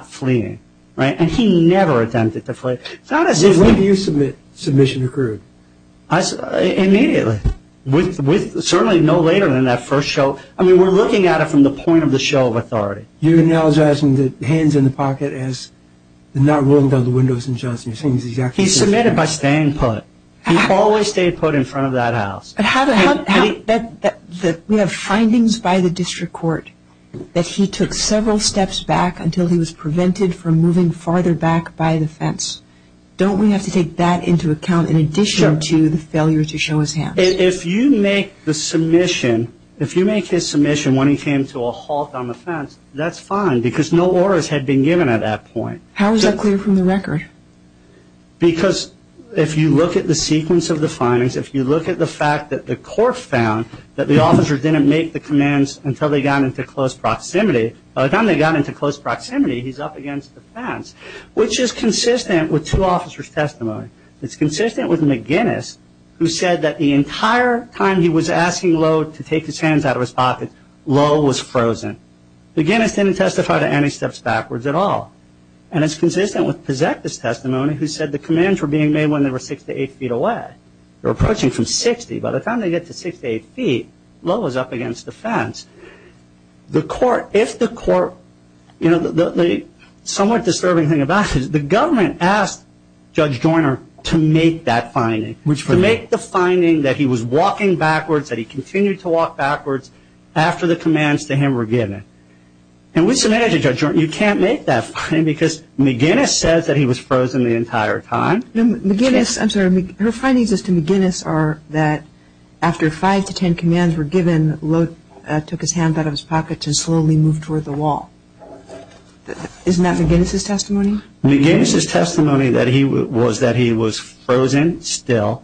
fleeing. And he never attempted to flee. When do you submit submission occurred? Immediately. Certainly no later than that first show. I mean, we're looking at it from the point of the show of authority. You're acknowledging the hands in the pocket as not rolling down the windows in Johnson. He submitted by staying put. He always stayed put in front of that house. We have findings by the district court that he took several steps back until he was prevented from moving farther back by the fence. Don't we have to take that into account in addition to the failure to show his hands? If you make the submission, if you make his submission when he came to a halt on the fence, that's fine because no orders had been given at that point. How is that clear from the record? Because if you look at the sequence of the findings, if you look at the fact that the court found that the officer didn't make the commands until they got into close proximity, by the time they got into close proximity, he's up against the fence, which is consistent with two officers' testimony. It's consistent with McGinnis, who said that the entire time he was asking Lowe to take his hands out of his pocket, Lowe was frozen. McGinnis didn't testify to any steps backwards at all. And it's consistent with Pozekta's testimony, who said the commands were being made when they were six to eight feet away. They were approaching from 60. By the time they get to six to eight feet, Lowe is up against the fence. The court, if the court, you know, the somewhat disturbing thing about this, the government asked Judge Joyner to make that finding, to make the finding that he was walking backwards, that he continued to walk backwards after the commands to him were given. And with some energy, Judge Joyner, you can't make that finding because McGinnis says that he was frozen the entire time. McGinnis, I'm sorry, her findings as to McGinnis are that after five to ten commands were given, Lowe took his hands out of his pocket and slowly moved toward the wall. Isn't that McGinnis' testimony? McGinnis' testimony was that he was frozen still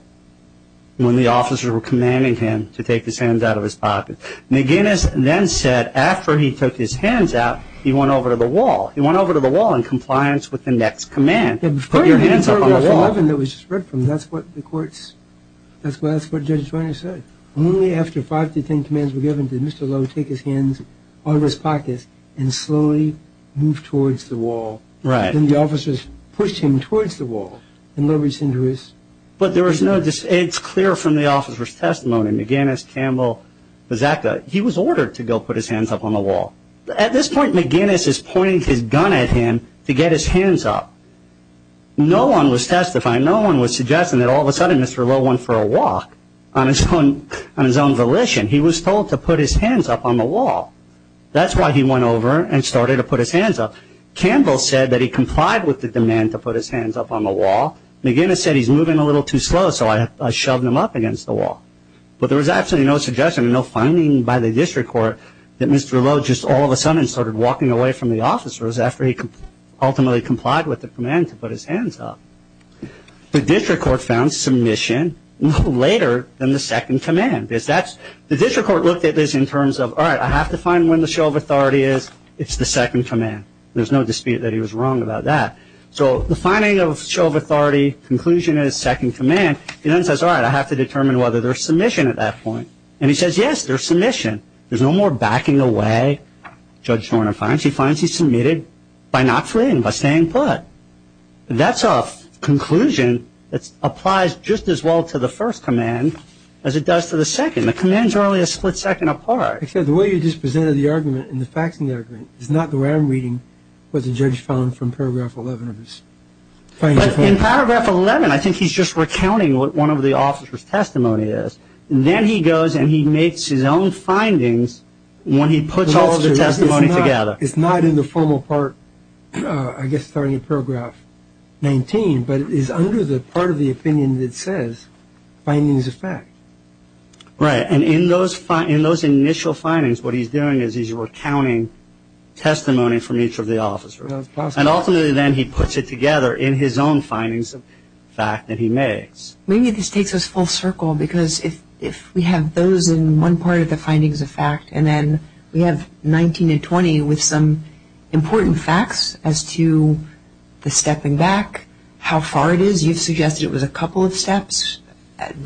when the officers were commanding him to take his hands out of his pocket. McGinnis then said after he took his hands out, he went over to the wall. He went over to the wall in compliance with the next command. Put your hands up on the wall. That's what the courts, that's what Judge Joyner said. Only after five to ten commands were given did Mr. Lowe take his hands out of his pocket and slowly move towards the wall. Then the officers pushed him towards the wall and Lowe reached into his pocket. But there was no, it's clear from the officer's testimony, McGinnis, Campbell, Bazzacca, he was ordered to go put his hands up on the wall. At this point McGinnis is pointing his gun at him to get his hands up. No one was testifying, no one was suggesting that all of a sudden Mr. Lowe went for a walk on his own volition. He was told to put his hands up on the wall. That's why he went over and started to put his hands up. Campbell said that he complied with the demand to put his hands up on the wall. McGinnis said he's moving a little too slow so I shoved him up against the wall. But there was absolutely no suggestion, no finding by the district court that Mr. Lowe just all of a sudden started walking away from the officers after he ultimately complied with the command to put his hands up. The district court found submission later than the second command. The district court looked at this in terms of, all right, I have to find when the show of authority is, it's the second command. There's no dispute that he was wrong about that. So the finding of show of authority, conclusion is second command. He then says, all right, I have to determine whether there's submission at that point. And he says, yes, there's submission. There's no more backing away. Judge Shorner finds he's submitted by not fleeing, by staying put. But that's a conclusion that applies just as well to the first command as it does to the second. The commands are only a split second apart. Except the way you just presented the argument and the facts in the argument is not the way I'm reading what the judge found from Paragraph 11 of this. But in Paragraph 11, I think he's just recounting what one of the officers' testimony is. And then he goes and he makes his own findings when he puts all of the testimony together. It's not in the formal part, I guess, starting at Paragraph 19, but it is under the part of the opinion that says findings of fact. Right. And in those initial findings, what he's doing is he's recounting testimony from each of the officers. And ultimately then he puts it together in his own findings of fact that he makes. Maybe this takes us full circle because if we have those in one part of the findings of fact and then we have 19 and 20 with some important facts as to the stepping back, how far it is. You've suggested it was a couple of steps.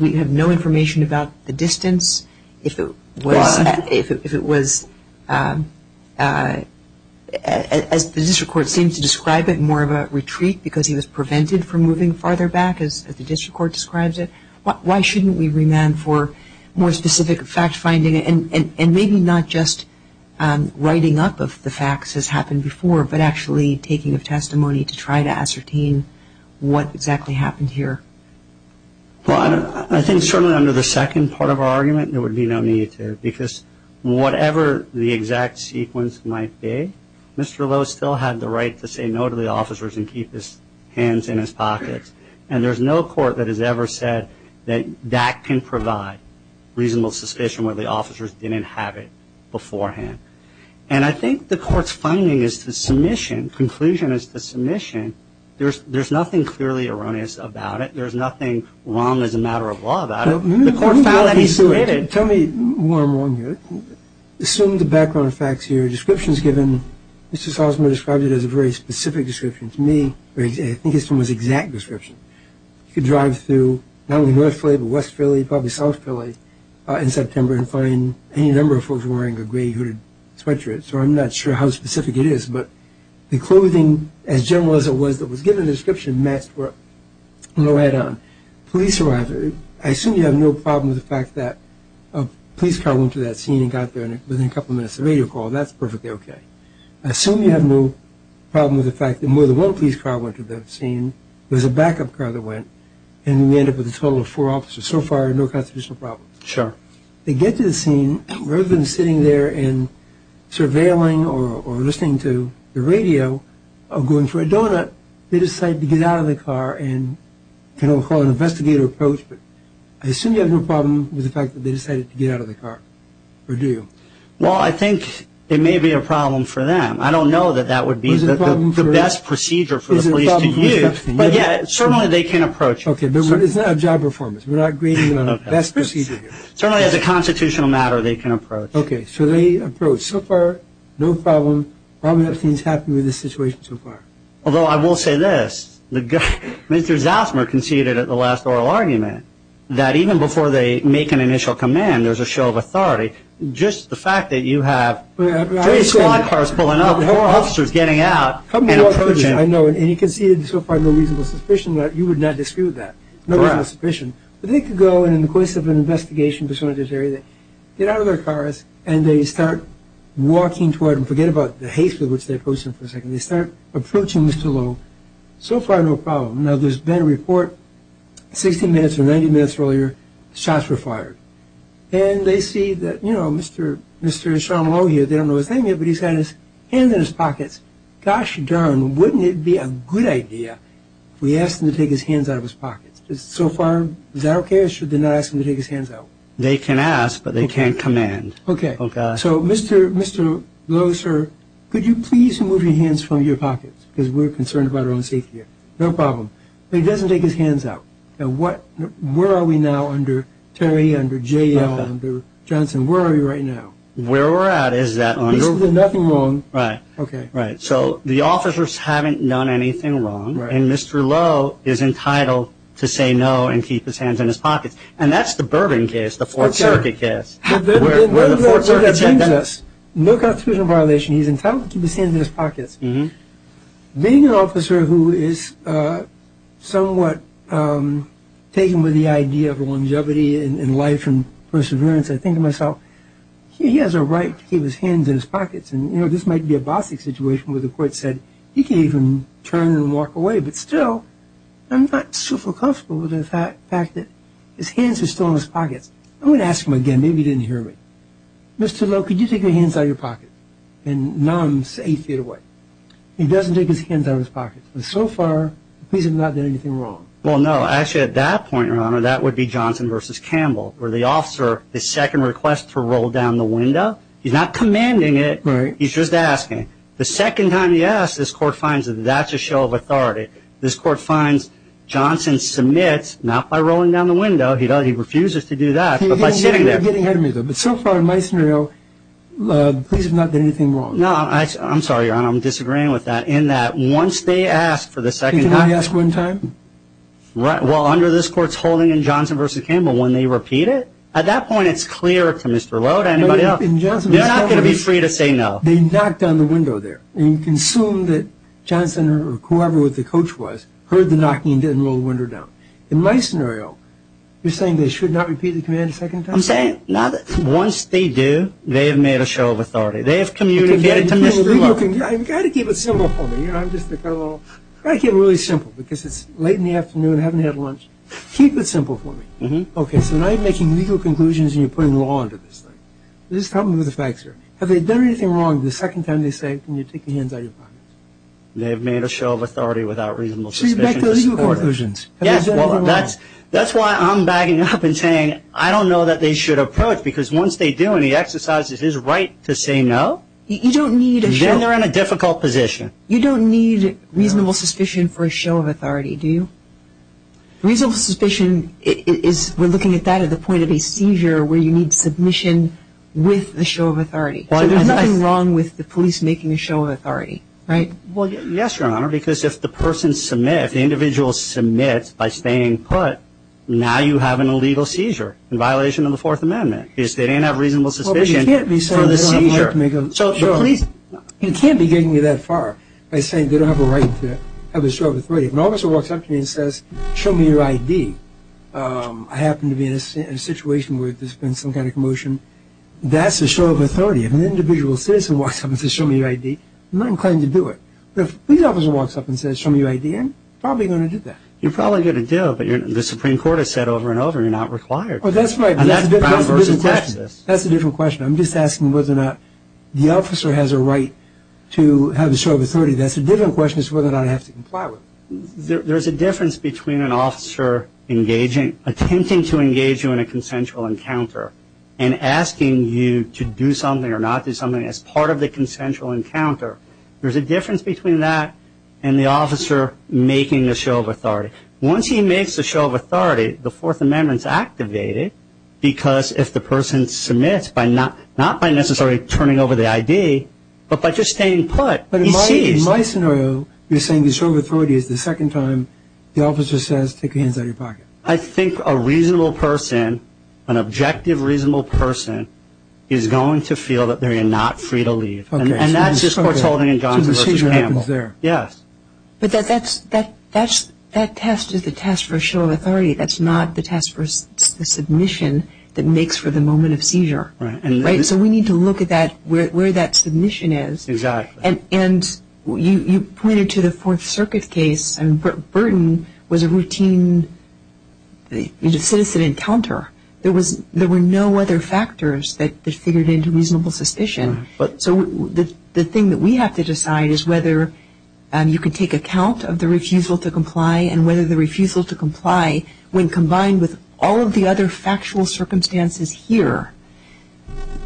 We have no information about the distance. If it was, as the district court seems to describe it, more of a retreat because he was prevented from moving farther back, as the district court describes it. Why shouldn't we remand for more specific fact finding and maybe not just writing up of the facts as happened before, but actually taking a testimony to try to ascertain what exactly happened here? Well, I think certainly under the second part of our argument there would be no need to because whatever the exact sequence might be, Mr. Lowe still had the right to say no to the officers and keep his hands in his pockets. And there's no court that has ever said that that can provide reasonable suspicion where the officers didn't have it beforehand. And I think the court's finding is the submission, conclusion is the submission. There's nothing clearly erroneous about it. There's nothing wrong as a matter of law about it. The court found that he submitted. Tell me where I'm wrong here. Assume the background facts here, descriptions given. Mr. Salzman described it as a very specific description to me. I think it's someone's exact description. You could drive through not only North Philly but West Philly, probably South Philly in September and find any number of folks wearing a gray hooded sweatshirt. So I'm not sure how specific it is, but the clothing as general as it was that was given in the description matched where Lowe had on. Police arrived. I assume you have no problem with the fact that a police car went to that scene and got there within a couple minutes of the radio call. That's perfectly okay. I assume you have no problem with the fact that more than one police car went to that scene. There was a backup car that went. And we ended up with a total of four officers. So far, no constitutional problems. Sure. They get to the scene. Rather than sitting there and surveilling or listening to the radio or going for a donut, they decide to get out of the car and kind of call it an investigator approach. But I assume you have no problem with the fact that they decided to get out of the car. Or do you? Well, I think it may be a problem for them. I don't know that that would be the best procedure for the police to use. But, yeah, certainly they can approach. Okay. But it's not a job performance. We're not agreeing on the best procedure here. Certainly as a constitutional matter, they can approach. Okay. So they approach. So far, no problem. Probably nothing's happened with the situation so far. Although I will say this. Mr. Zassmer conceded at the last oral argument that even before they make an initial command, when there's a show of authority, just the fact that you have police cars pulling up, officers getting out and approaching. I know. And you conceded so far no reasonable suspicion. You would not dispute that. Correct. No reasonable suspicion. But they could go in the course of an investigation, get out of their cars, and they start walking toward them. Forget about the haste with which they approach them for a second. So far, no problem. Now, there's been a report. Sixteen minutes or 90 minutes earlier, shots were fired. And they see that, you know, Mr. Sean Lowe here, they don't know his name yet, but he's got his hands in his pockets. Gosh darn, wouldn't it be a good idea if we asked him to take his hands out of his pockets? So far, is that okay? Or should they not ask him to take his hands out? They can ask, but they can't command. Okay. So, Mr. Lowe, sir, could you please remove your hands from your pockets? Because we're concerned about our own safety here. No problem. But he doesn't take his hands out. Now, where are we now under Terry, under J.L., under Johnson? Where are we right now? Where we're at is that under... At least there's nothing wrong. Right. Okay. Right. So the officers haven't done anything wrong, and Mr. Lowe is entitled to say no and keep his hands in his pockets. And that's the Bourbon case, the Fourth Circuit case. Where the Fourth Circuit said that... No constitutional violation. He's entitled to keep his hands in his pockets. Being an officer who is somewhat taken with the idea of longevity in life and perseverance, I think to myself, he has a right to keep his hands in his pockets. And, you know, this might be a bossy situation where the court said, he can even turn and walk away. But still, I'm not super comfortable with the fact that his hands are still in his pockets. I'm going to ask him again. Maybe he didn't hear me. Mr. Lowe, could you take your hands out of your pocket? And none say feet away. He doesn't take his hands out of his pockets. So far, please have not done anything wrong. Well, no. Actually, at that point, Your Honor, that would be Johnson v. Campbell, where the officer, the second request to roll down the window, he's not commanding it. Right. He's just asking. The second time he asks, this court finds that that's a show of authority. This court finds Johnson submits, not by rolling down the window, he refuses to do that, but by sitting there. You're getting ahead of me, though. But so far in my scenario, please have not done anything wrong. No. I'm sorry, Your Honor. I'm disagreeing with that in that once they ask for the second time. Can I ask one time? Well, under this court's holding in Johnson v. Campbell, when they repeat it, at that point it's clear to Mr. Lowe, to anybody else, they're not going to be free to say no. They knocked down the window there. And you can assume that Johnson or whoever the coach was heard the knocking and didn't roll the window down. In my scenario, you're saying they should not repeat the command a second time? I'm saying now that once they do, they have made a show of authority. They have communicated to Mr. Lowe. You've got to keep it simple for me. I'm just a fellow. You've got to keep it really simple because it's late in the afternoon, I haven't had lunch. Keep it simple for me. Okay, so now you're making legal conclusions and you're putting law into this thing. This is a problem with the facts here. Have they done anything wrong the second time they say, can you take your hands out of your pockets? They have made a show of authority without reasonable suspicion. So you're back to legal conclusions. Yes. That's why I'm backing up and saying I don't know that they should approach because once they do and he exercises his right to say no, then they're in a difficult position. You don't need reasonable suspicion for a show of authority, do you? Reasonable suspicion is we're looking at that at the point of a seizure where you need submission with a show of authority. So there's nothing wrong with the police making a show of authority, right? Well, yes, Your Honor, because if the person submits, if the individual submits by staying put, now you have an illegal seizure in violation of the Fourth Amendment because they didn't have reasonable suspicion for the seizure. You can't be getting me that far by saying they don't have a right to have a show of authority. If an officer walks up to me and says, show me your ID, I happen to be in a situation where there's been some kind of commotion, that's a show of authority. If an individual citizen walks up and says, show me your ID, I'm not inclined to do it. But if a police officer walks up and says, show me your ID, I'm probably going to do that. You're probably going to do it, but the Supreme Court has said over and over you're not required. That's right. That's a different question. That's a different question. I'm just asking whether or not the officer has a right to have a show of authority. That's a different question as to whether or not I have to comply with it. There's a difference between an officer engaging, attempting to engage you in a consensual encounter and asking you to do something or not do something as part of the consensual encounter. There's a difference between that and the officer making a show of authority. Once he makes a show of authority, the Fourth Amendment is activated, because if the person submits not by necessarily turning over the ID, but by just staying put, he's seized. But in my scenario, you're saying the show of authority is the second time the officer says, take your hands out of your pocket. I think a reasonable person, an objective, reasonable person, is going to feel that they are not free to leave. And that's just Courtaulding and Johnson v. Campbell. So the seizure happens there. Yes. But that test is the test for show of authority. That's not the test for the submission that makes for the moment of seizure. Right. So we need to look at where that submission is. Exactly. And you pointed to the Fourth Circuit case, and Burton was a routine citizen encounter. There were no other factors that figured into reasonable suspicion. So the thing that we have to decide is whether you can take account of the refusal to comply and whether the refusal to comply, when combined with all of the other factual circumstances here,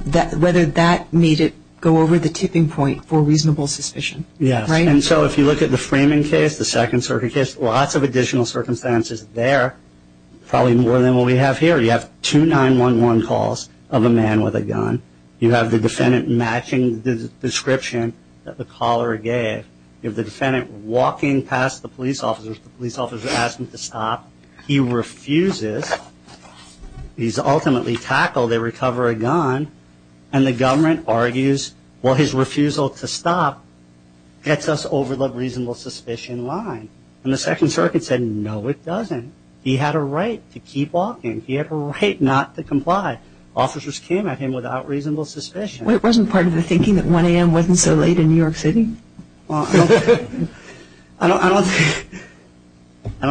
whether that made it go over the tipping point for reasonable suspicion. Yes. Right? And so if you look at the Freeman case, the Second Circuit case, lots of additional circumstances there, probably more than what we have here. You have two 911 calls of a man with a gun. You have the defendant matching the description that the caller gave. You have the defendant walking past the police officer. The police officer asks him to stop. He refuses. He's ultimately tackled. They recover a gun. And the government argues, well, his refusal to stop gets us over the reasonable suspicion line. And the Second Circuit said, no, it doesn't. He had a right to keep walking. He had a right not to comply. Officers came at him without reasonable suspicion. Well, it wasn't part of the thinking that 1 a.m. wasn't so late in New York City? Well, I don't think so.